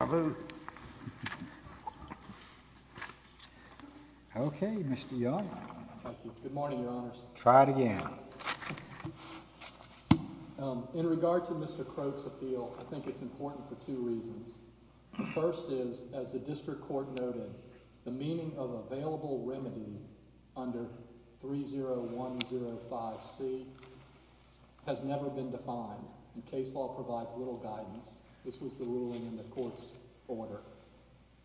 al. Okay, Mr. Young. Thank you. Good morning, Your Honors. Try it again. In regard to Mr. Croak's appeal, I think it's important for two reasons. The first is, as the district court noted, the meaning of available remedy under 30105C has never been defined, and case law provides little guidance. This was the ruling in the court's ruling.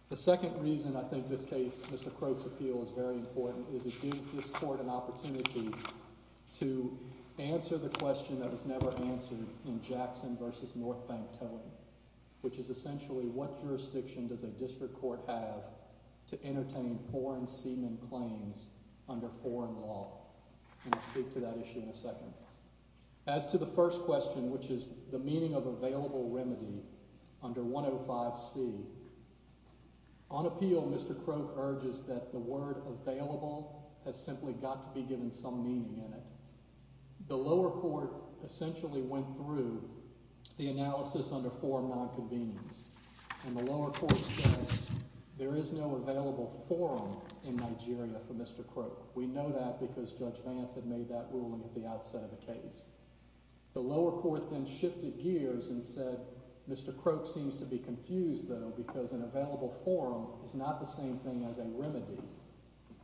The second reason I think this case, Mr. Croak's appeal, is very important is it gives this court an opportunity to answer the question that was never answered in Jackson v. Northbank Towing, which is essentially, what jurisdiction does a district court have to entertain foreign semen claims under foreign law? And I'll speak to that issue in a second. As to the first question, which is the meaning of available remedy under 30105C, on appeal, Mr. Croak urges that the word available has simply got to be given some meaning in it. The lower court essentially went through the analysis under foreign nonconvenience, and the lower court says there is no available forum in Nigeria for Mr. Croak. We know that because Judge Vance had made that ruling at the outset of the case. The lower court then shifted gears and said, Mr. Croak seems to be confused, though, because an available forum is not the same thing as a remedy,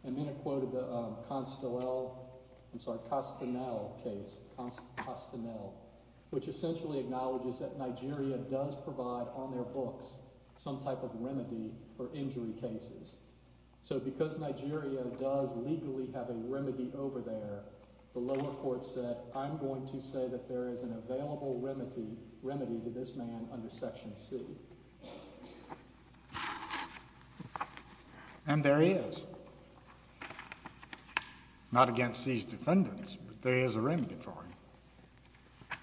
and then it quoted the Castanel case, which essentially acknowledges that Nigeria does provide on their books some type of remedy for injury cases. So, because Nigeria does legally have a remedy over there, the lower court said, I'm going to say that there is an available remedy to this man under Section C. And there he is. Not against these defendants, but there is a remedy for him.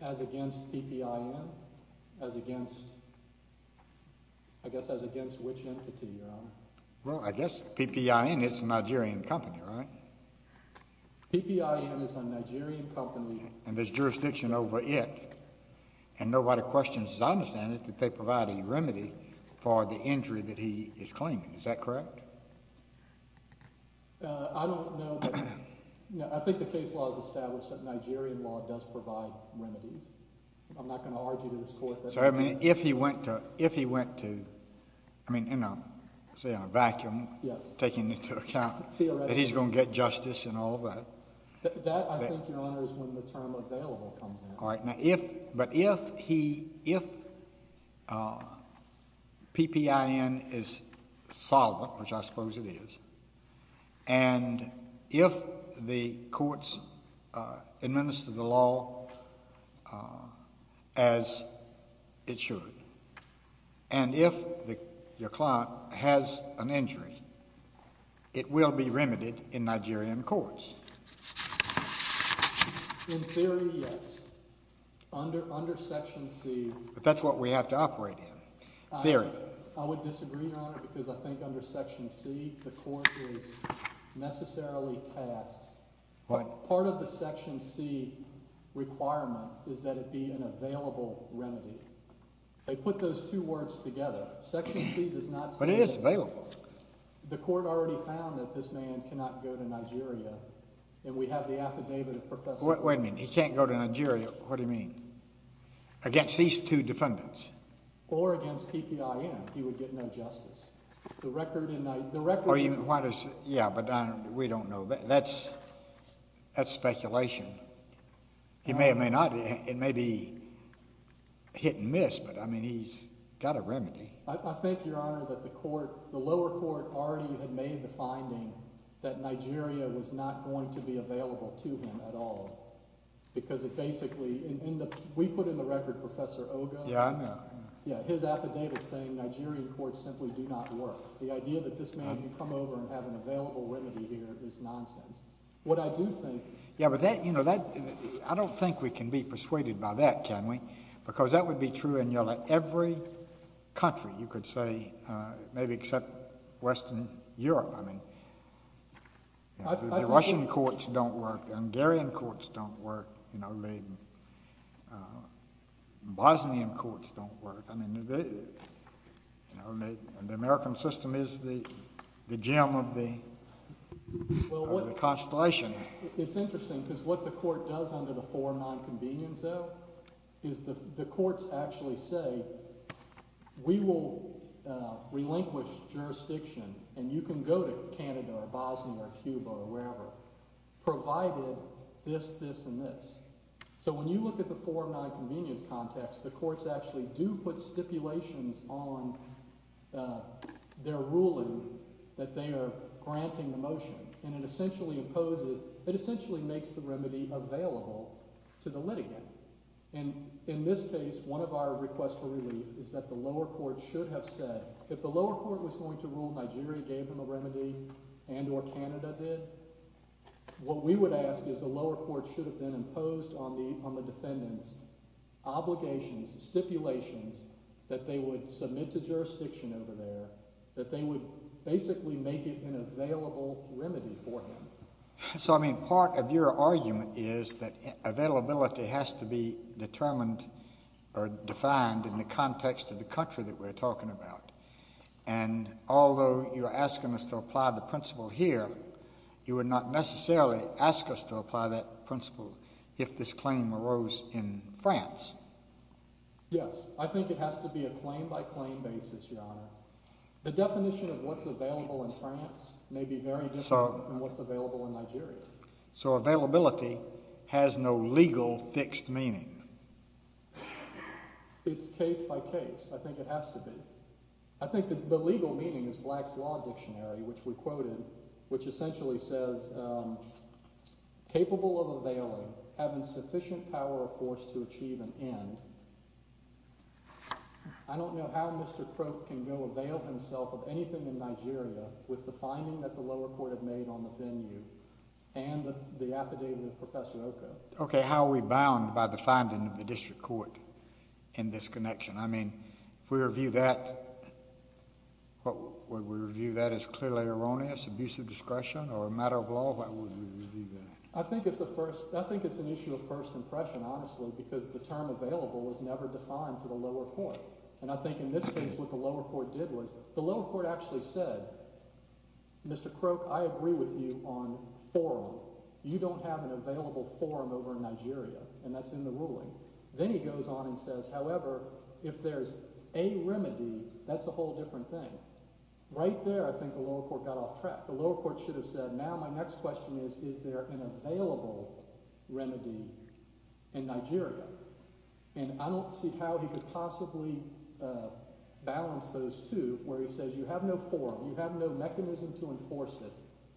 As against PPIN? As against, I guess as against which entity, Your Honor? Well, I guess PPIN is a Nigerian company, right? PPIN is a Nigerian company. And there's jurisdiction over it. And nobody questions his understanding that they provide a remedy for the injury that he is claiming. Is that correct? I don't know. I think the case law has established that Nigerian law does provide remedies. I'm not going to argue to this Court that— So, I mean, if he went to, if he went to, I mean, in a, say, in a vacuum— Yes. —taking into account that he's going to get justice and all that— That, I think, Your Honor, is when the term available comes in. All right. Now, if, but if he, if PPIN is solvent, which I suppose it is, and if the courts administer the law as it should, and if your client has an injury, it will be remedied in Nigerian courts. In theory, yes. Under, under Section C— But that's what we have to operate in. Theory. I would disagree, Your Honor, because I think under Section C, the court is necessarily tasked— What? Part of the Section C requirement is that it be an available remedy. They put those two words together. Section C does not say— But it is available. The court already found that this man cannot go to Nigeria, and we have the affidavit of Professor— Wait a minute. He can't go to Nigeria. What do you mean? Against these two defendants. Or against PPIN. He would get no justice. The record in— The record— Why does—yeah, but we don't know. That's, that's speculation. He may or may not. It may be hit and miss, but, I mean, he's got a remedy. I think, Your Honor, that the court, the local court, has a remedy. Yeah, but that, you know, that, I don't think we can be persuaded by that, can we? Because that would be true in nearly every country, you could say, maybe except Western Europe. I mean— I think— The Russian courts don't work. The Hungarian courts don't work. You know, the Bosnian courts don't work. I mean, you know, and the American system is the gem of the, of the Constellation. It's interesting because what the court does under the Form 9 Convenience, though, is the courts actually say, we will relinquish jurisdiction, and you can go to Canada or Bosnia or Cuba or wherever, provided this, this, and this. So when you look at the Form 9 Convenience context, the courts actually do put stipulations on their ruling that they are granting the motion, and it essentially imposes, it essentially makes the remedy available to the litigant. And in this case, one of our requests for relief is that the lower court should have said, if the lower court was going to rule Nigeria gave them a remedy and or Canada did, what we would ask is the lower court should have then imposed on the, on the defendants obligations, stipulations that they would submit to jurisdiction over there, that they would basically make it an available remedy for him. So I mean, part of your argument is that availability has to be determined or defined in the context of the country that we're talking about. And although you're asking us to apply the principle here, you would not necessarily ask us to apply that principle if this claim arose in France. Yes, I think it has to be a claim by claim basis, Your Honor. The definition of what's available in France may be very different from what's available in Nigeria. So availability has no legal fixed meaning. It's case by case. I think it has to be. I think that the legal meaning is Black's Law Dictionary, which we quoted, which essentially says capable of availing, having sufficient power or force to achieve an end. I don't know how Mr. Croak can go avail himself of anything in Nigeria with the finding that the lower court had made on the venue and the affidavit of Professor Oko. Okay, how are we bound by the finding of the district court in this connection? I mean, if we review that, what we review that is clearly erroneous, abuse of discretion or a matter of law, why would we review that? I think it's an issue of first impression, honestly, because the term available was never defined for the lower court. And I think in this case, what the lower court did was, the lower court actually said, Mr. Croak, I agree with you on forum. You don't have an available forum over in Nigeria, and that's in the ruling. Then he goes on and says, however, if there's a remedy, that's a whole different thing. Right there, I think the lower court got off track. The lower court should have said, now my next question is, is there an available remedy in Nigeria? And I don't see how he could possibly balance those two, where he says, you have no forum, you have no mechanism to enforce it,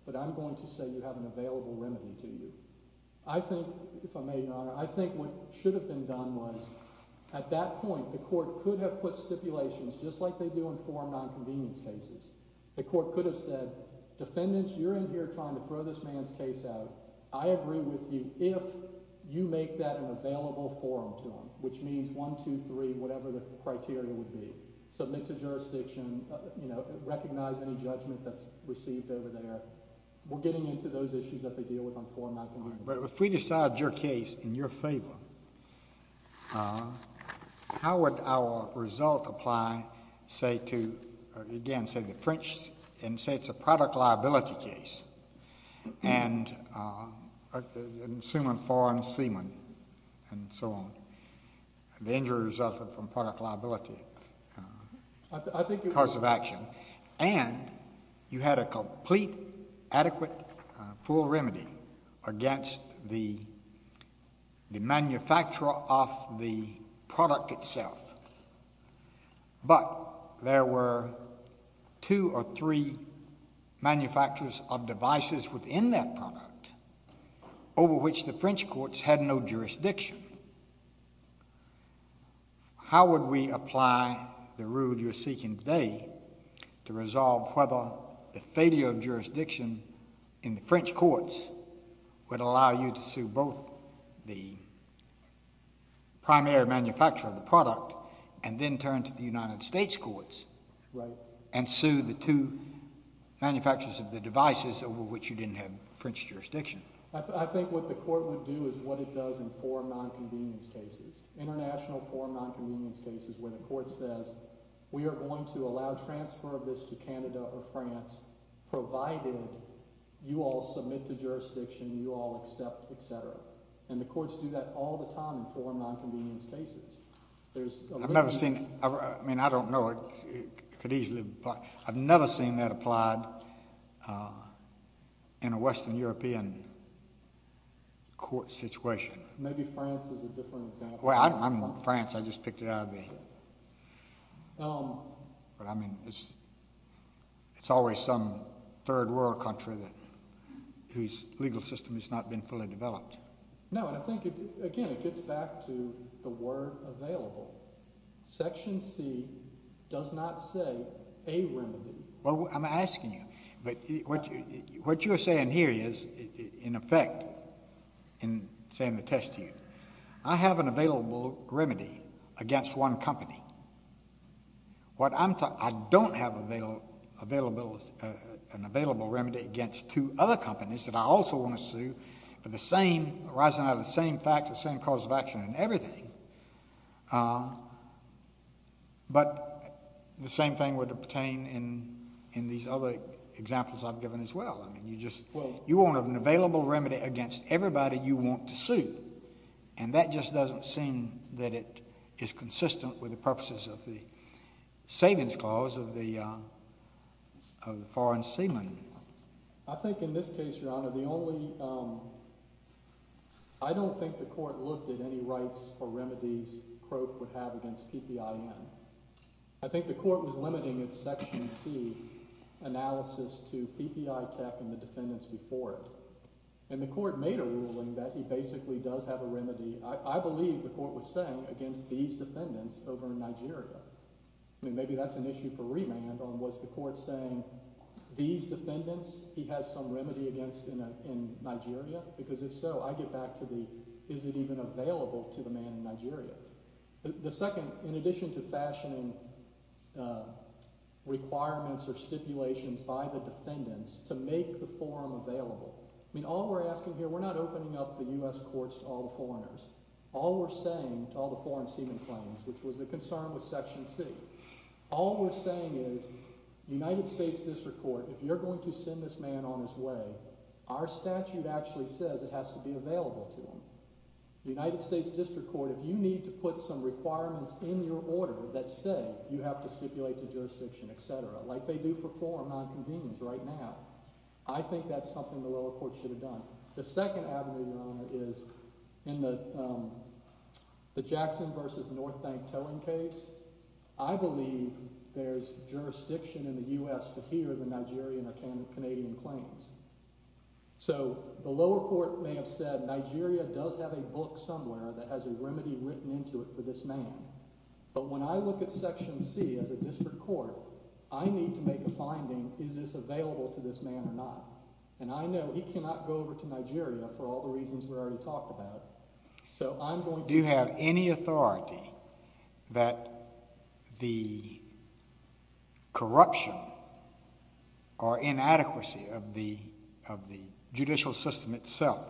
but I'm going to say you have an available remedy to you. I think, if I may, Your Honor, I think what should have been done was, at that point, the court could have put stipulations just like they do in forum non-convenience cases. The court could have said, defendants, you're in here trying to throw this man's case out. I agree with you if you make that an available forum to him, which means one, two, three, whatever the criteria would be. Submit to jurisdiction, you know, recognize any judgment that's received over there. We're getting into those issues that they deal with on forum non-convenience cases. But if we decide your case in your favor, how would our result apply, say, to, again, say the French, and say it's a product liability case, and assuming foreign seamen and so on, the injury resulted from product liability, cause of action, and you had a complete, adequate, full remedy against the manufacturer of the product itself. But there were two or three manufacturers of devices within that product over which the French courts had no jurisdiction. How would we apply the rule you're seeking today to resolve whether the failure of jurisdiction in the French courts would allow you to sue both the primary manufacturer of the product and then turn to the United States courts and sue the two manufacturers of the devices over which you didn't have French jurisdiction? I think what the court would do is what it does in forum non-convenience cases, international forum non-convenience cases, where the court says, we are going to allow transfer of this to Canada or France, provided you all submit to jurisdiction, you all accept, et cetera. And the courts do that all the time in forum non-convenience cases. I've never seen, I mean, I don't know, it could easily, I've never seen that applied in a Western European court situation. Maybe France is a different example. Well, I don't want France. I just picked it out of the, but I mean, it's always some third world country that, whose legal system has not been fully developed. No, and I think, again, it gets back to the word available. Section C does not say a remedy. Well, I'm asking you, but what you're saying here is in effect, in saying the test to you, I have an available remedy against one company. What I'm talking, I don't have available, an available remedy against two other companies that I also want to sue for the same, arising out of the same facts, the same cause of action and everything. But the same thing would pertain in these other examples I've given as well. I mean, you just, you won't have an available remedy against everybody you want to sue. And that just doesn't seem that it is consistent with the purposes of the savings clause of the foreign seaman. I think in this case, Your Honor, the only, I don't think the court looked at any rights or remedies Croak would have against PPIN. I think the court was limiting its Section C analysis to PPITEC and the defendants before it. And the court made a ruling that he basically does have a remedy. I believe the court was saying against these defendants over in Nigeria. I mean, maybe that's an issue for remand on what's the court saying, these defendants, he has some remedy against in Nigeria? Because if so, I get back to the, is it even available to the man in Nigeria? The second, in addition to fashioning requirements or stipulations by the defendants to make the forum available, I mean, all we're asking here, we're not opening up the U.S. courts to all the foreigners. All we're saying to all the foreign seaman claims, which was the concern with Section C, all we're saying is United States District Court, if you're going to send this man on his way, our statute actually says it has to be available to him. United States District Court, if you need to put some requirements in your order that say you have to stipulate the jurisdiction, et cetera, like they do for forum nonconvenience right now, I think that's something the lower court should have done. The second avenue, Your Honor, is in the Jackson v. North Bank towing case, I believe there's jurisdiction in the U.S. to hear the Nigerian or Canadian claims. So the lower court may have said Nigeria does have a book somewhere that has a remedy written into it for this man, but when I look at Section C as a district court, I need to make a finding, is this available to this man or not? And I know he cannot go over to Nigeria for all the reasons we already talked about. So I'm going to... Do you have any authority that the corruption or inadequacy of the judicial system itself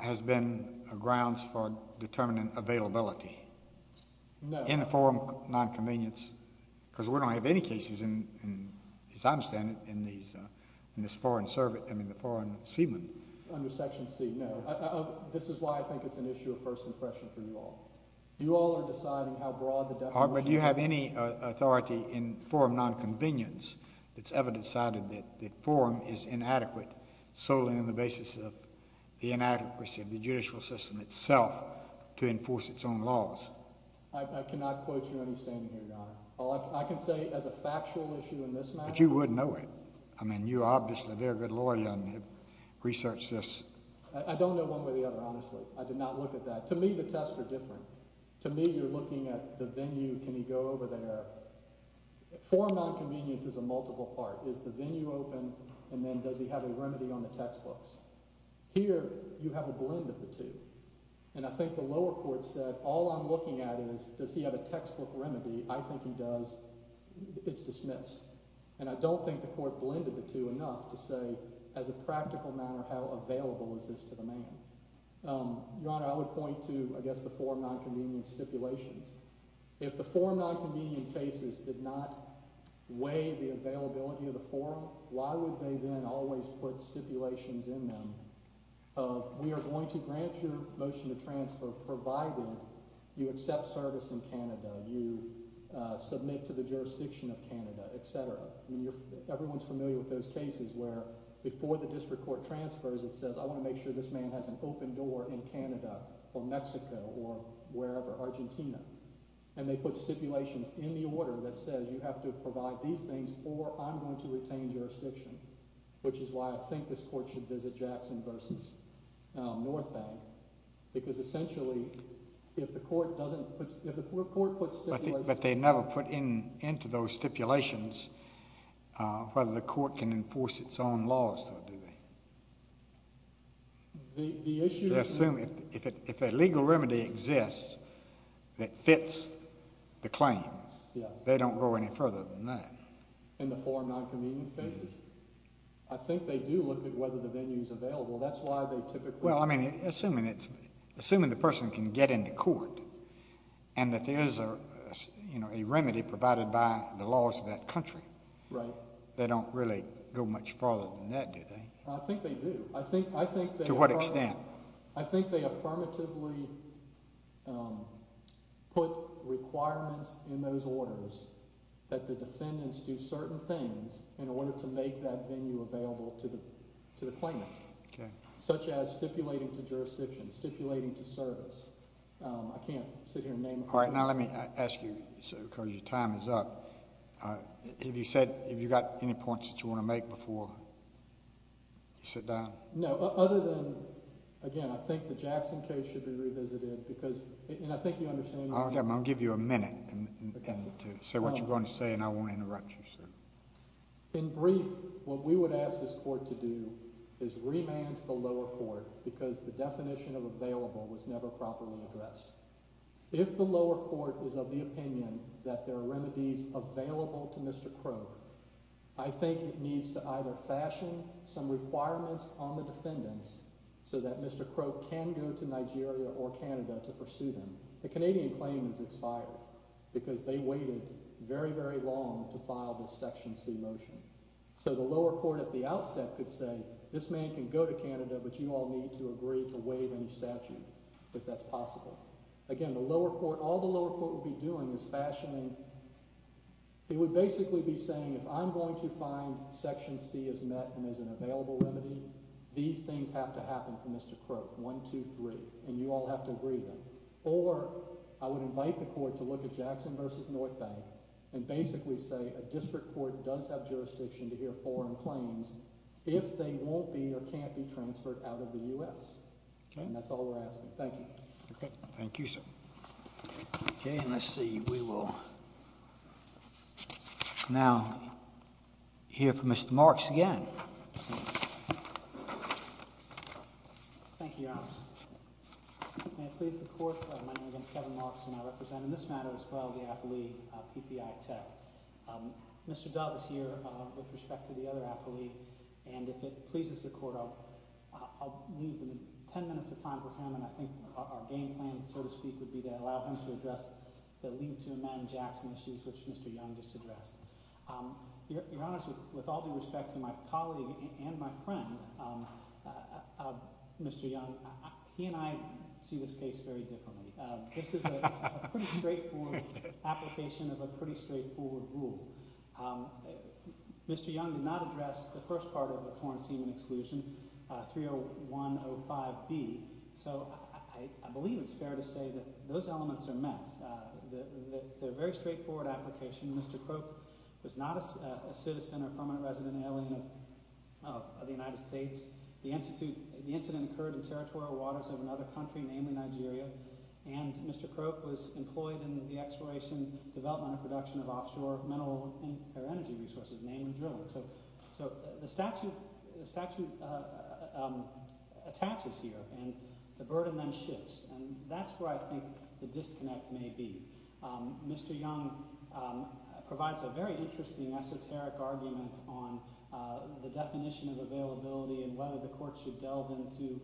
has been grounds for determining availability in a forum nonconvenience, because we don't have any cases, as I understand it, in this foreign servant, I mean, the foreign seaman? Under Section C, no. This is why I think it's an issue of personal question for you all. You all are deciding how broad the definition... But do you have any authority in forum nonconvenience that's ever decided that the forum is inadequate solely on the basis of the inadequacy of the judicial system itself to enforce its own I cannot quote you on your standing here, Your Honor. All I can say as a factual issue in this matter... But you would know it. I mean, you're obviously a very good lawyer, and you've researched this. I don't know one way or the other, honestly. I did not look at that. To me, the tests are different. To me, you're looking at the venue, can he go over there? Forum nonconvenience is a multiple part. Is the venue open, and then does he have a remedy on the textbooks? Here you have a blend of the two. And I think the lower court said, all I'm looking at is, does he have a textbook remedy? I think he does. It's dismissed. And I don't think the court blended the two enough to say, as a practical matter, how available is this to the man? Your Honor, I would point to, I guess, the forum nonconvenience stipulations. If the forum nonconvenience cases did not weigh the availability of the forum, why would they then always put stipulations in them of, we are going to grant your motion to transfer provided you accept service in Canada, you submit to the jurisdiction of Canada, et cetera. Everyone's familiar with those cases where, before the district court transfers, it says, I want to make sure this man has an open door in Canada, or Mexico, or wherever, Argentina. And they put stipulations in the order that says, you have to provide these things, or I'm going to retain jurisdiction, which is why I think this court should visit Jackson versus North Bank. Because, essentially, if the court puts stipulations... But they never put into those stipulations whether the court can enforce its own laws, though, do they? The issue... They assume if a legal remedy exists that fits the claim. Yes. They don't go any further than that. In the forum nonconvenience cases? I think they do look at whether the venue's available. That's why they typically... Well, I mean, assuming the person can get into court, and that there is a remedy provided by the laws of that country. Right. They don't really go much further than that, do they? I think they do. I think they... To what extent? I think they affirmatively put requirements in those orders that the defendants do certain things in order to make that venue available to the claimant. Okay. Such as stipulating to jurisdiction, stipulating to service. I can't sit here and name... All right. Now, let me ask you, because your time is up. Have you said... Have you got any points that you want to make before you sit down? No. Other than... Again, I think the Jackson case should be revisited because... And I think you understand... Okay. I'm going to give you a minute to say what you're going to say, and I won't interrupt you, sir. In brief, what we would ask this court to do is remand the lower court because the definition of available was never properly addressed. If the lower court is of the opinion that there are remedies available to Mr. Croak, I think it needs to either fashion some requirements on the defendants so that Mr. Croak can go to Nigeria or Canada to pursue them. The Canadian claim is expired because they waited very, very long to file this Section C motion. So the lower court at the outset could say, this man can go to Canada, but you all need to agree to waive any statute if that's possible. Again, the lower court... All the lower court would be doing is fashioning... It would basically be saying, if I'm going to find Section C is met and there's an available remedy, these things have to happen for Mr. Croak. One, two, three. And you all have to agree to them. Or I would invite the court to look at Jackson v. North Bank and basically say a district court does have jurisdiction to hear foreign claims if they won't be or can't be transferred out of the U.S. And that's all we're asking. Thank you. Okay. Thank you, sir. Okay, and let's see. We will now hear from Mr. Marks again. Thank you, Your Honor. May it please the Court, my name is Kevin Marks, and I represent in this matter as well the affilee, PPI Tech. Mr. Dove is here with respect to the other affilee, and if it pleases the Court, I'll leave 10 minutes of time for him, and I think our game plan, so to speak, would be to allow him to address the leave to amend Jackson issues, which Mr. Young just addressed. Your Honor, with all due respect to my colleague and my friend, Mr. Young, he and I see this case very differently. This is a pretty straightforward application of a pretty straightforward rule. Mr. Young did not address the first part of the foreign semen exclusion, 30105B. So I believe it's fair to say that those elements are met. They're a very straightforward application. Mr. Croak was not a citizen or permanent resident alien of the United States. The incident occurred in territorial waters of another country, namely Nigeria, and Mr. Croak was employed in the exploration, development, and production of offshore mineral or energy resources, namely drilling. So the statute attaches here, and the burden then shifts, and that's where I think the issue may be. Mr. Young provides a very interesting esoteric argument on the definition of availability and whether the court should delve into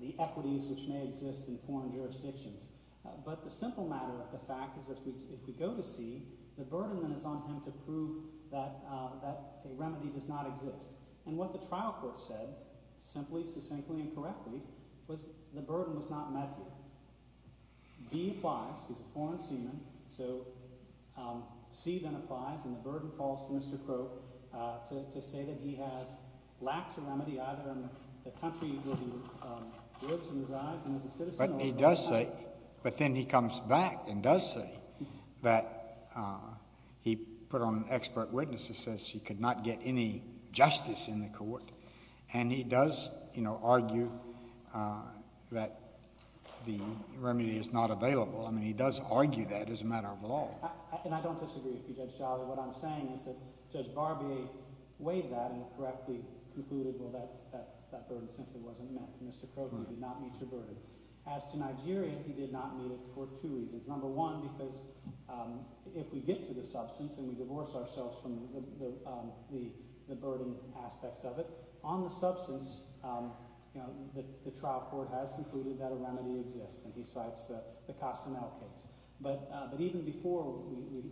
the equities which may exist in foreign jurisdictions. But the simple matter of the fact is if we go to see, the burden then is on him to prove that a remedy does not exist, and what the trial court said, simply, succinctly, and B applies, he's a foreign semen, so C then applies, and the burden falls to Mr. Croak to say that he lacks a remedy either in the country where he lives and resides and is a citizen or a permanent resident. But he does say, but then he comes back and does say that, he put on expert witnesses he could not get any justice in the court, and he does argue that the remedy is not available. I mean, he does argue that as a matter of law. And I don't disagree with you, Judge Jolly. What I'm saying is that Judge Barbier weighed that and correctly concluded, well, that burden simply wasn't met. Mr. Croak did not meet your burden. As to Nigeria, he did not meet it for two reasons. Number one, because if we get to the substance and we divorce ourselves from the burden aspects of it, on the substance, the trial court has concluded that a remedy exists, and he cites the Castanet case. But even before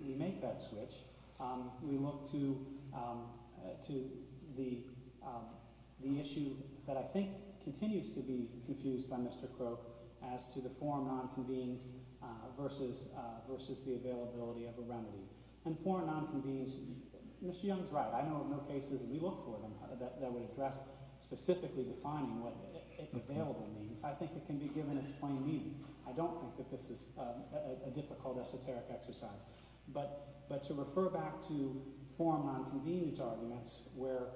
we make that switch, we look to the issue that I think continues to be the issue of foreign non-convenience versus the availability of a remedy. And foreign non-convenience, Mr. Young is right. I know of no cases, and we look for them, that would address specifically defining what available means. I think it can be given its plain meaning. I don't think that this is a difficult esoteric exercise. But to refer back to foreign non-convenience arguments where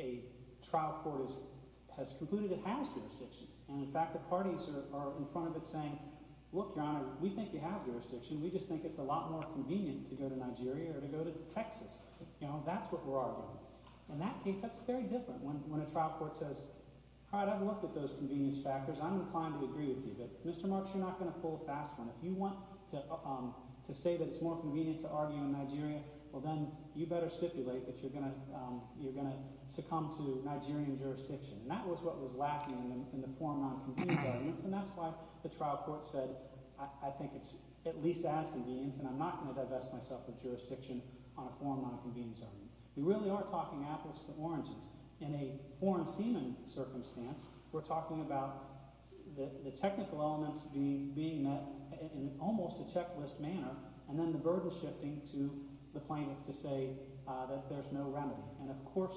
a trial court has concluded it has jurisdiction, and in fact, the parties are in front of it saying, look, Your Honor, we think you have jurisdiction. We just think it's a lot more convenient to go to Nigeria or to go to Texas. That's what we're arguing. In that case, that's very different. When a trial court says, all right, I've looked at those convenience factors. I'm inclined to agree with you. But Mr. Marks, you're not going to pull a fast one. If you want to say that it's more convenient to argue in Nigeria, well, then you better stipulate that you're going to succumb to Nigerian jurisdiction. And that was what was lacking in the foreign non-convenience arguments, and that's why the trial court said, I think it's at least as convenient, and I'm not going to divest myself of jurisdiction on a foreign non-convenience argument. We really are talking apples to oranges. In a foreign seaman circumstance, we're talking about the technical elements being met in almost a checklist manner, and then the burden shifting to the plaintiff to say that there's no remedy. And of course,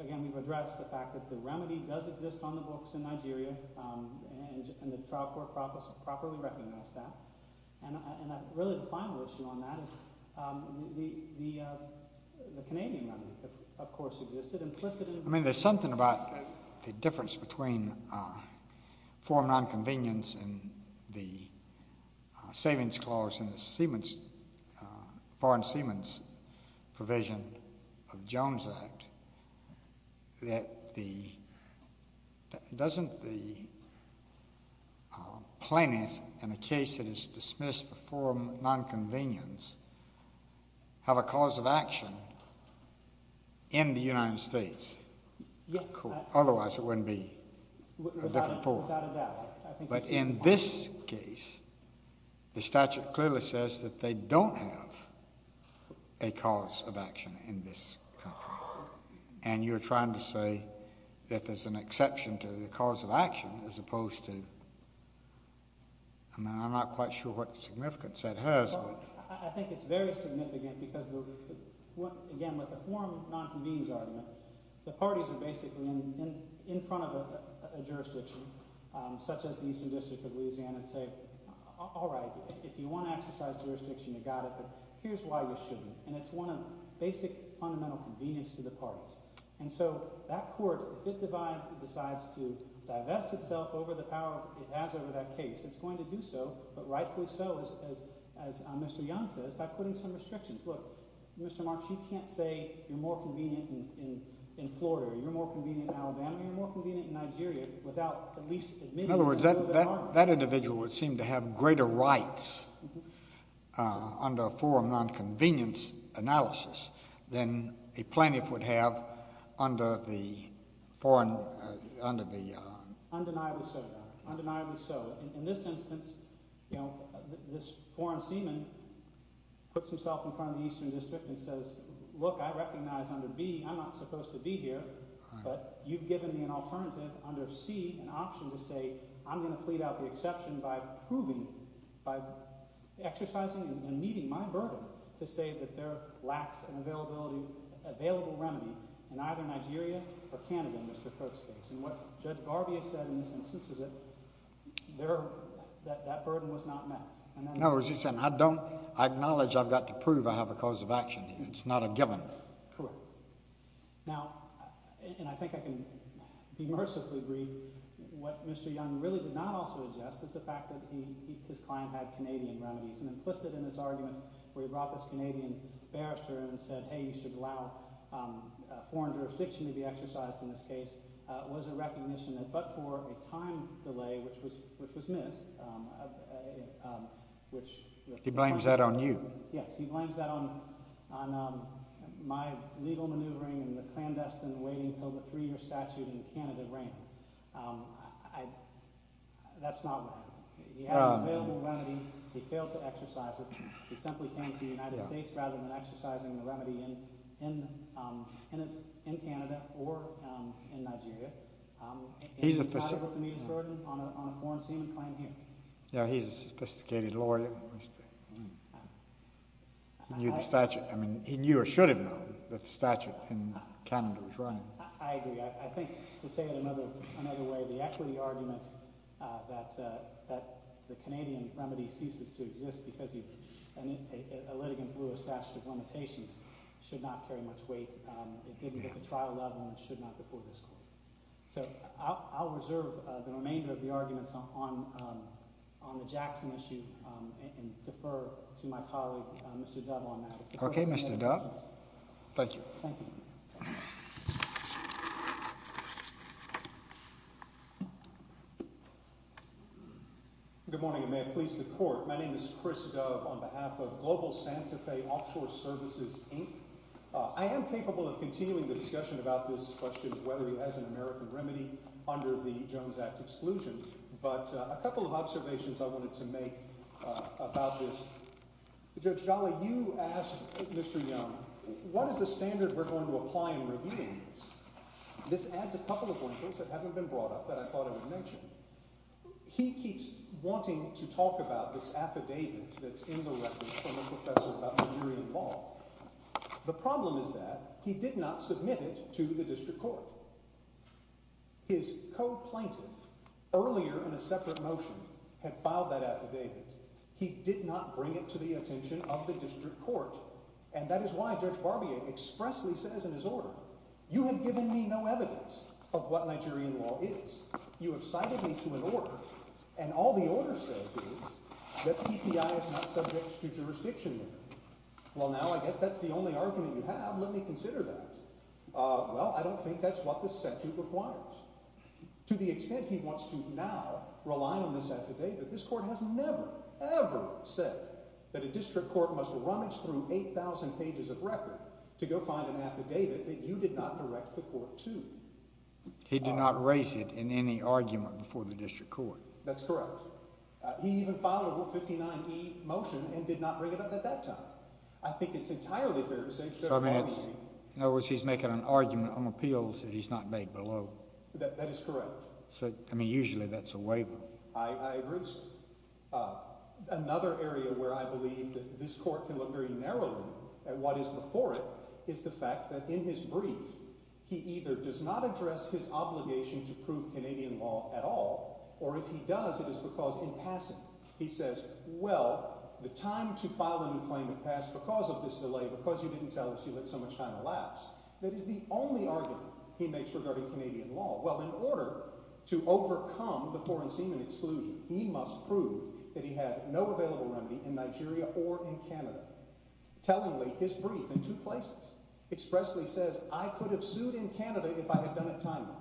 again, we've addressed the fact that the remedy does exist on the books in Nigeria, and the trial court properly recognized that. And really, the final issue on that is the Canadian remedy, of course, existed implicitly. I mean, there's something about the difference between foreign non-convenience and the savings clause in the foreign seaman's provision of Jones Act that doesn't the plaintiff in a case that is dismissed for foreign non-convenience have a cause of action in the United States? Yes. Otherwise, it wouldn't be a different form. Without a doubt. But in this case, the statute clearly says that they don't have a cause of action in this country, and you're trying to say that there's an exception to the cause of action as opposed to—I mean, I'm not quite sure what significance that has. I think it's very significant because, again, with the foreign non-convenience argument, the parties are basically in front of a jurisdiction, such as the Eastern District of Louisiana, and say, all right, if you want to exercise jurisdiction, you got it, but here's why you shouldn't. And it's one of basic fundamental convenience to the parties. And so that court, if it decides to divest itself over the power it has over that case, it's going to do so, but rightfully so, as Mr. Young says, by putting some restrictions. Look, Mr. Marks, you can't say you're more convenient in Florida, you're more convenient in Alabama, you're more convenient in Nigeria, without at least— In other words, that individual would seem to have greater rights under a foreign non-convenience analysis than a plaintiff would have under the foreign— Undeniably so. Undeniably so. In this instance, this foreign seaman puts himself in front of the Eastern District and says, look, I recognize under B, I'm not supposed to be here, but you've given me an alternative under C, an option to say, I'm going to plead out the exception by proving, by exercising and meeting my burden to say that there lacks an available remedy in either Nigeria or Canada, in Mr. Kirk's case. And what Judge Barbier said in this instance was that that burden was not met. In other words, he said, I don't—I acknowledge I've got to prove I have a cause of action. It's not a given. Correct. Now, and I think I can be mercifully brief, what Mr. Young really did not also adjust is the fact that his client had Canadian remedies. And implicit in this argument, where he brought this Canadian barrister and said, hey, you should allow foreign jurisdiction to be exercised in this case, was a recognition that but for a time delay, which was missed, which— He blames that on you. Yes, he blames that on my legal maneuvering and the clandestine waiting until the three-year statute in Canada ran. That's not what happened. He had an available remedy. He failed to exercise it. He simply came to the United States rather than exercising the remedy in Canada or in Nigeria. He's a— He's liable to meet his burden on a foreign claim here. Yeah, he's a sophisticated lawyer. He knew the statute. I mean, he knew or should have known that the statute in Canada was running. I agree. I think, to say it another way, the equity argument that the Canadian remedy ceases to exist and a litigant blew a statute of limitations should not carry much weight. It didn't hit the trial level and it should not before this court. So, I'll reserve the remainder of the arguments on the Jackson issue and defer to my colleague, Mr. Dove, on that. Okay, Mr. Dove. Thank you. Thank you. Good morning, and may it please the Court. My name is Chris Dove on behalf of Global Santa Fe Offshore Services, Inc. I am capable of continuing the discussion about this question of whether he has an American remedy under the Jones Act exclusion, but a couple of observations I wanted to make about this. Judge Jolly, you asked Mr. Young, what is the standard we're going to apply in reviewing this? This adds a couple of linkers that haven't been brought up that I thought I would mention. He keeps wanting to talk about this affidavit that's in the record from a professor about Nigerian law. The problem is that he did not submit it to the district court. His co-plaintiff, earlier in a separate motion, had filed that affidavit. He did not bring it to the attention of the district court, and that is why Judge Barbier expressly says in his order, you have given me no evidence of what Nigerian law is. You have cited me to an order, and all the order says is that the EPI is not subject to jurisdiction there. Well, now I guess that's the only argument you have. Let me consider that. Well, I don't think that's what this statute requires. To the extent he wants to now rely on this affidavit, this court has never, ever said that a district court must rummage through 8,000 pages of record to go find an affidavit that you did not direct the court to. He did not raise it in any argument before the district court. That's correct. He even filed a 159E motion and did not bring it up at that time. I think it's entirely fair to say Judge Barbier... So, I mean, in other words, he's making an argument on appeals that he's not made below. That is correct. So, I mean, usually that's a waiver. I agree. Another area where I believe that this court can look very narrowly at what is before it is the fact that in his brief, he either does not address his obligation to prove Canadian law at all, or if he does, it is because impassive. He says, well, the time to file a new claim had passed because of this delay, because you didn't tell us you let so much time elapse. That is the only argument he makes regarding Canadian law. Well, in order to overcome the foreign seaman exclusion, he must prove that he had no available remedy in Nigeria or in Canada. Tellingly, his brief in two places expressly says, I could have sued in Canada if I had done it timely.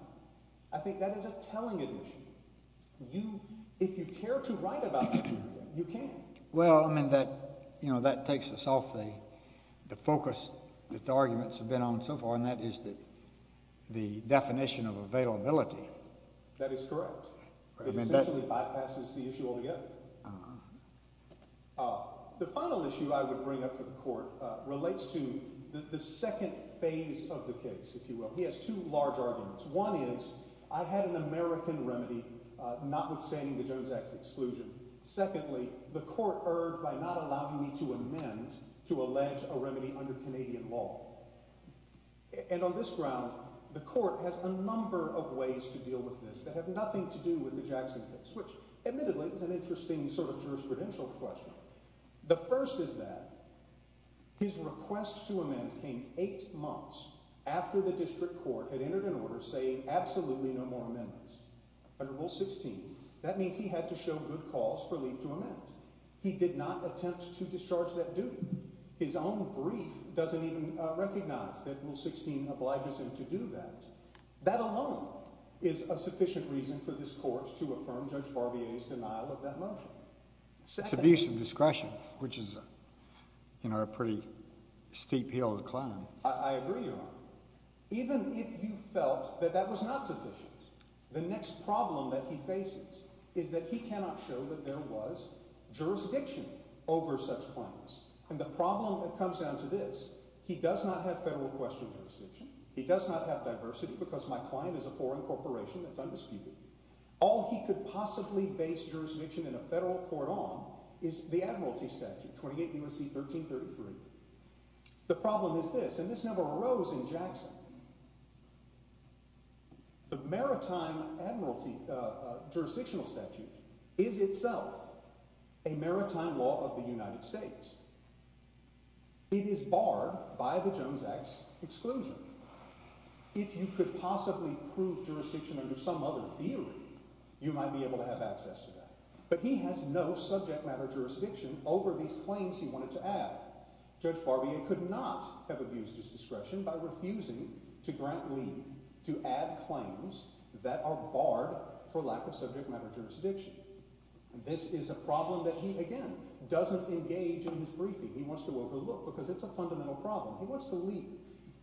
I think that is a telling admission. If you care to write about Nigeria, you can. Well, I mean, that takes us off the focus that the arguments have been on so far, and that is the definition of availability. That is correct. It essentially bypasses the issue altogether. The final issue I would bring up to the court relates to the second phase of the case, if you will. He has two large arguments. One is, I had an American remedy notwithstanding the Jones Act's exclusion. Secondly, the court erred by not allowing me to amend to allege a remedy under Canadian law. And on this ground, the court has a number of ways to deal with this that have nothing to do with the Jackson case, which admittedly is an interesting sort of jurisprudential question. The first is that his request to amend came eight months after the district court had entered an order saying absolutely no more amendments under Rule 16. That means he had to show good cause for leave to amend. He did not attempt to discharge that duty. His own brief doesn't even recognize that Rule 16 obliges him to do that. That alone is a sufficient reason for this court to affirm Judge Barbier's denial of that motion. It's abuse of discretion, which is, you know, a pretty steep hill to climb. I agree, Your Honor. Even if you felt that that was not sufficient, the next problem that he faces is that he cannot show that there was jurisdiction over such claims. And the problem that comes down to this, he does not have federal question jurisdiction. He does not have diversity because my client is a foreign corporation that's undisputed. All he could possibly base jurisdiction in a federal court on is the admiralty statute, 28 U.S.C. 1333. The problem is this, and this never arose in Jackson. The maritime jurisdictional statute is itself a maritime law of the United States. It is barred by the Jones Act's exclusion. If you could possibly prove jurisdiction under some other theory, you might be able to have access to that. But he has no subject matter jurisdiction over these claims he wanted to add. Judge Barbier could not have abused his discretion by refusing to grant leave to add claims that are barred for lack of subject matter jurisdiction. This is a problem that he, again, doesn't engage in his briefing. He wants to overlook because it's a fundamental problem. He wants to leap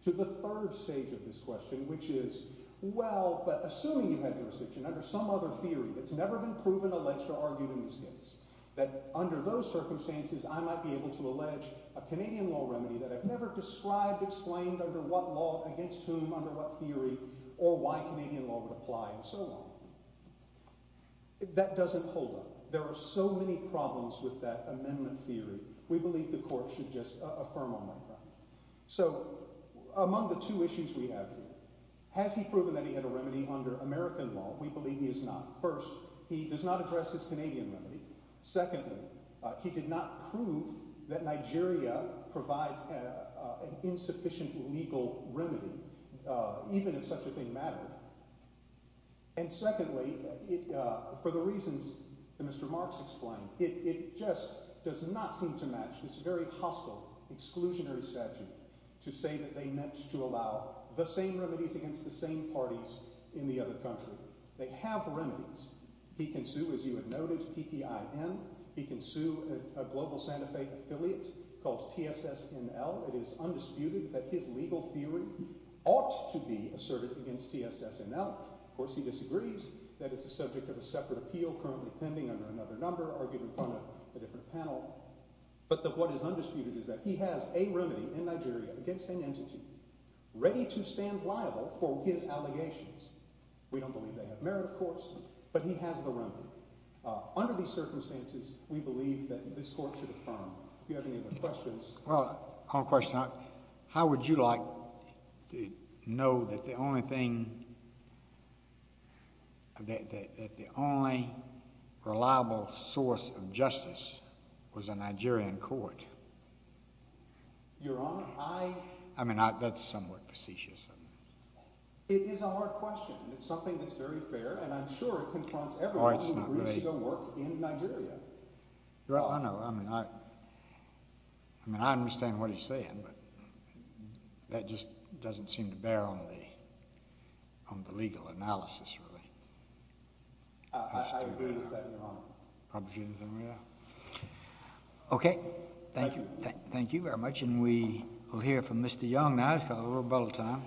to the third stage of this question, which is, well, but assuming you have jurisdiction under some other theory that's never been proven, alleged, or argued in this case, that under those circumstances, I might be able to allege a Canadian law remedy that I've never described, explained under what law, against whom, under what theory, or why Canadian law would apply, and so on. That doesn't hold up. There are so many problems with that amendment theory. We believe the court should just affirm on that ground. So, among the two issues we have here, has he proven that he had a remedy under American law? We believe he has not. First, he does not address his Canadian remedy. Secondly, he did not prove that Nigeria provides an insufficient legal remedy, even if such a thing mattered. And secondly, for the reasons that Mr. Marks explained, it just does not seem to match this very hostile, exclusionary statute to say that they meant to allow the same remedies against the same parties in the other country. They have remedies. He can sue, as you have noted, PPIN. He can sue a Global Santa Fe affiliate called TSSNL. It is undisputed that his legal theory ought to be asserted against TSSNL. Of course, he disagrees that it's the subject of a separate appeal currently pending under another number, argued in front of a different panel. But what is undisputed is that he has a remedy in Nigeria against an entity ready to stand liable for his allegations. We don't believe they have merit, of course, but he has the remedy. Under these circumstances, we believe that this court should affirm. Do you have any other questions? Well, I have a question. How would you like to know that the only thing, that the only reliable source of justice was a Nigerian court? Your Honor, I... I mean, that's somewhat facetious of me. It is a hard question. It's something that's very fair, and I'm sure it confronts everyone who agrees to the work in Nigeria. Well, I know. I mean, I... I mean, I understand what he's saying, but that just doesn't seem to bear on the legal analysis, really. I agree with that, Your Honor. Okay. Thank you. Thank you very much, and we will hear from Mr. Young now. It's got a little bit of time.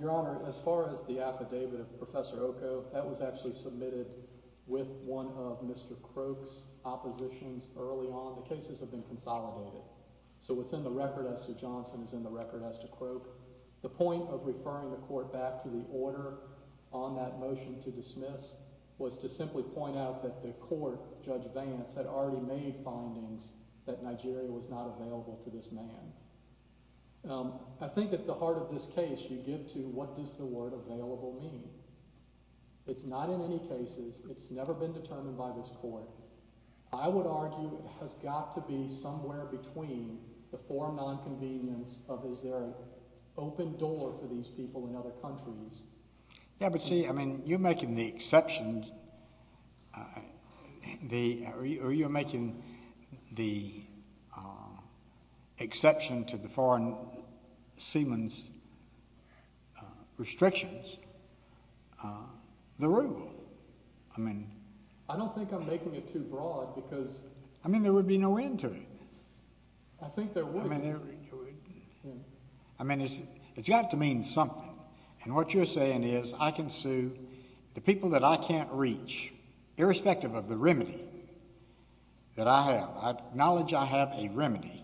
Your Honor, as far as the affidavit of Professor Oko, that was actually submitted with one of Mr. Croak's oppositions early on. The cases have been consolidated, so what's in the record as to Johnson is in the record as to Croak. The point of referring the court back to the order on that motion to dismiss was to simply point out that the court, Judge Vance, had already made findings that Nigeria was not available to this man. I think at the heart of this case, you give to what does the word available mean. It's not in any cases. It's never been determined by this court. I would argue it has got to be somewhere between the four nonconvenience of is there an open door for these people in other countries... You're making the exception to the foreign seamen's restrictions the rule. I mean... I don't think I'm making it too broad because... I mean there would be no end to it. I think there would be no end to it. I mean it's got to mean something, and what you're saying is I can sue the people that I can't reach irrespective of the remedy that I have. I acknowledge I have a remedy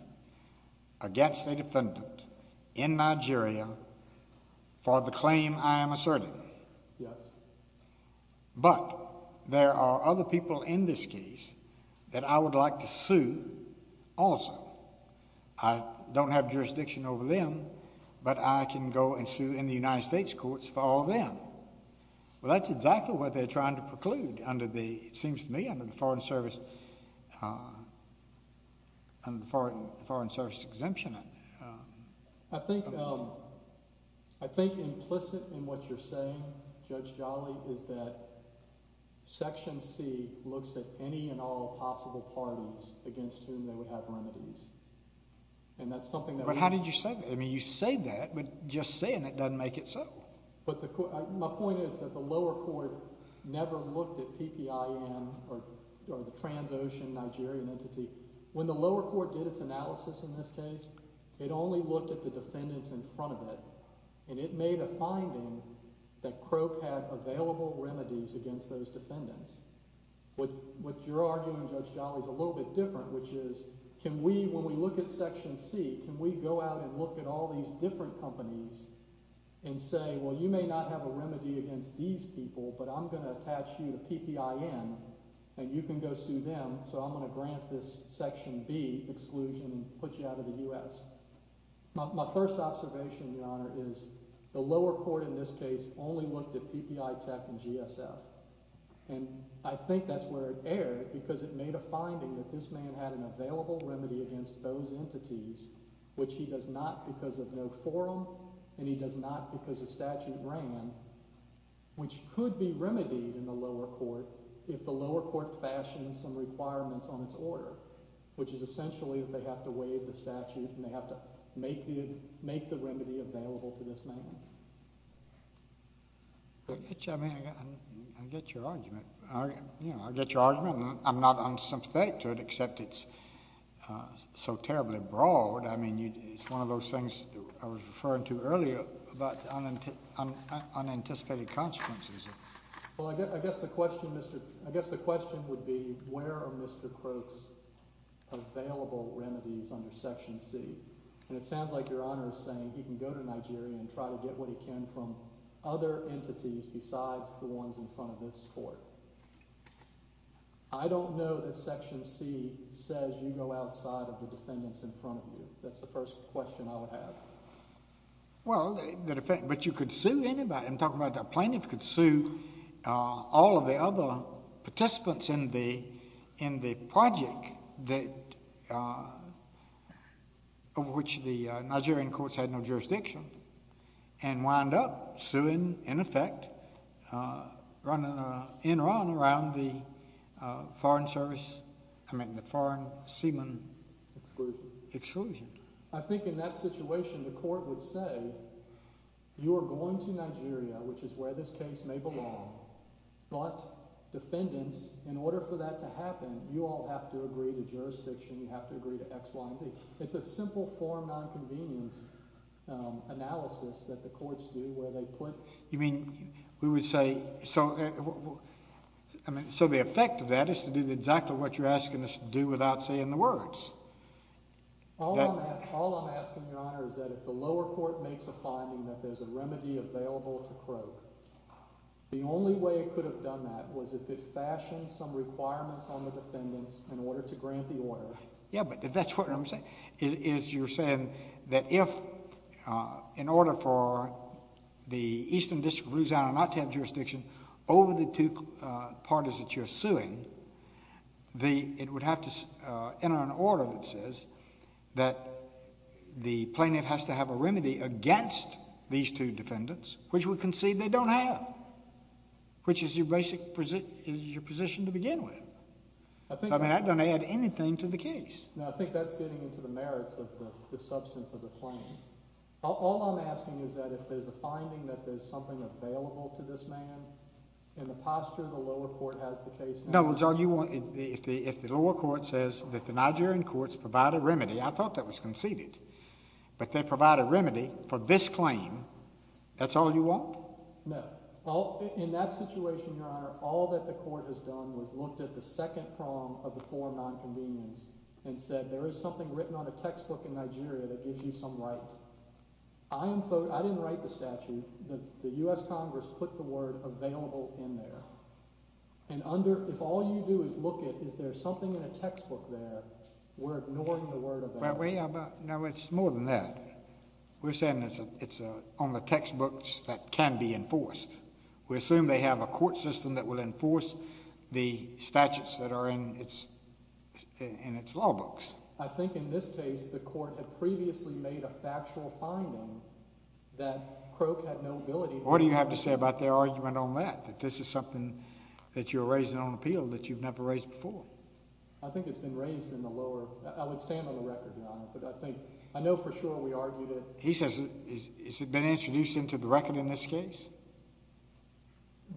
against a defendant in Nigeria for the claim I am asserting. Yes. But there are other people in this case that I would like to sue also. I don't have jurisdiction over them, but I can go and sue in the United States courts for all of them. Well, that's exactly what they're trying to preclude under the... it seems to me under the Foreign Service... under the Foreign Service exemption. I think implicit in what you're saying, Judge Jolly, is that Section C looks at any and all possible parties against whom they would have remedies. And that's something that... But how did you say that? I mean you say that, but just saying it doesn't make it so. But my point is that the lower court never looked at PPIN or the Transocean Nigerian entity. When the lower court did its analysis in this case, it only looked at the defendants in front of it. And it made a finding that Croke had available remedies against those defendants. What you're arguing, Judge Jolly, is a little bit different, which is can we, when we look at Section C, can we go out and look at all these different companies and say, well you may not have a remedy against these people, but I'm going to attach you to PPIN and you can go sue them, so I'm going to grant this Section B exclusion and put you out of the U.S. My first observation, Your Honor, is the lower court in this case only looked at PPI Tech and GSF. And I think that's where it erred because it made a finding that this man had an available remedy against those entities, which he does not because of no forum and he does not because the statute ran, which could be remedied in the lower court if the lower court fashioned some requirements on its order, which is essentially that they have to waive the statute and they have to make the remedy available to this man. I get your argument. I'm not unsympathetic to it except it's so terribly broad. I mean, it's one of those things I was referring to earlier about unanticipated consequences. Well, I guess the question would be where are Mr. Croak's available remedies under Section C? And it sounds like Your Honor is saying he can go to Nigeria and try to get what he can from other entities besides the ones in front of this court. I don't know that Section C says you go outside of the defendants in front of you. That's the first question I would have. Well, but you could sue anybody. I'm talking about the plaintiff could sue all of the other participants in the project over which the Nigerian courts had no jurisdiction and wind up suing, in effect, in run around the Foreign Service, I mean the Foreign Seaman Exclusion. I think in that situation the court would say you are going to Nigeria, which is where this case may belong, but defendants, in order for that to happen, you all have to agree to jurisdiction, you have to agree to X, Y, and Z. It's a simple form of nonconvenience analysis that the courts do where they put You mean, we would say, so the effect of that is to do exactly what you're asking us to do without saying the words. All I'm asking, Your Honor, is that if the lower court makes a finding that there's a remedy available to croak, the only way it could have done that was if it fashioned some requirements on the defendants in order to grant the order. Yeah, but that's what I'm saying, is you're saying that if, in order for the Eastern District of Louisiana not to have jurisdiction over the two parties that you're suing, it would have to enter an order that says that the plaintiff has to have a remedy against these two defendants, which we concede they don't have, which is your position to begin with. So that doesn't add anything to the case. No, I think that's getting into the merits of the substance of the claim. All I'm asking is that if there's a finding that there's something available to this man, in the posture the lower court has the case. No, it's all you want. If the lower court says that the Nigerian courts provide a remedy, I thought that was conceded, but they provide a remedy for this claim, that's all you want? No. In that situation, Your Honor, all that the court has done was looked at the second prong of the form of nonconvenience and said there is something written on a textbook in Nigeria that gives you some right. I didn't write the statute. The U.S. Congress put the word available in there. And if all you do is look at is there something in a textbook there, we're ignoring the word available. No, it's more than that. We're saying it's on the textbooks that can be enforced. We assume they have a court system that will enforce the statutes that are in its law books. I think in this case the court had previously made a factual finding that Croak had no ability to enforce. What do you have to say about their argument on that, that this is something that you're raising on appeal that you've never raised before? I think it's been raised in the lower – I would stand on the record, Your Honor, but I think – I know for sure we argued it. But he says – has it been introduced into the record in this case?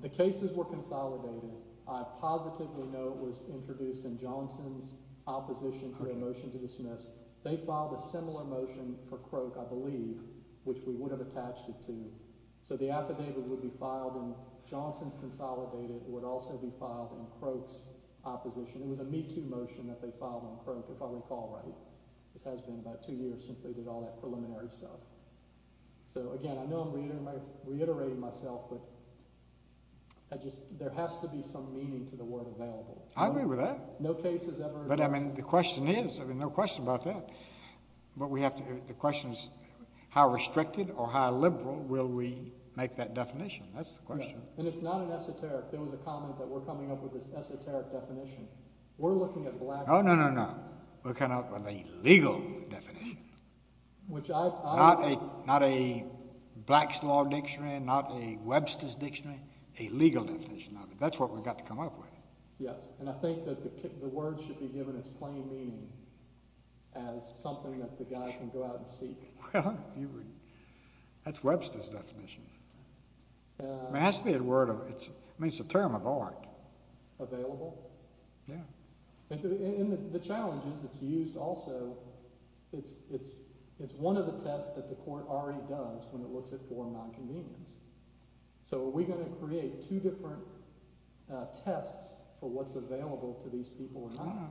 The cases were consolidated. I positively know it was introduced in Johnson's opposition to the motion to dismiss. They filed a similar motion for Croak, I believe, which we would have attached it to. So the affidavit would be filed in Johnson's consolidated. It would also be filed in Croak's opposition. It was a MeToo motion that they filed on Croak, if I recall right. This has been about two years since they did all that preliminary stuff. So, again, I know I'm reiterating myself, but there has to be some meaning to the word available. I agree with that. No case has ever – But, I mean, the question is – I mean, no question about that. But we have to – the question is how restricted or how liberal will we make that definition. That's the question. And it's not an esoteric – there was a comment that we're coming up with this esoteric definition. We're looking at black – Oh, no, no, no. We're coming up with a legal definition. Which I – Not a black's law dictionary, not a Webster's dictionary. A legal definition of it. That's what we've got to come up with. Yes, and I think that the word should be given its plain meaning as something that the guy can go out and seek. That's Webster's definition. I mean, it has to be a word of – I mean, it's a term of art. Available? Yeah. And the challenge is it's used also – it's one of the tests that the court already does when it looks at foreign nonconvenience. So are we going to create two different tests for what's available to these people or not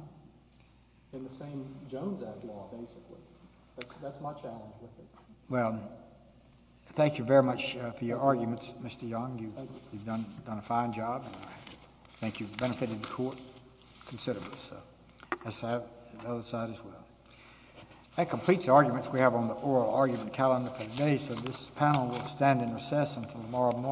in the same Jones Act law, basically? That's my challenge with it. Well, thank you very much for your arguments, Mr. Young. You've done a fine job, and I think you've benefited the court considerably. So let's have the other side as well. That completes the arguments we have on the oral argument calendar for today. So this panel will stand in recess until tomorrow morning.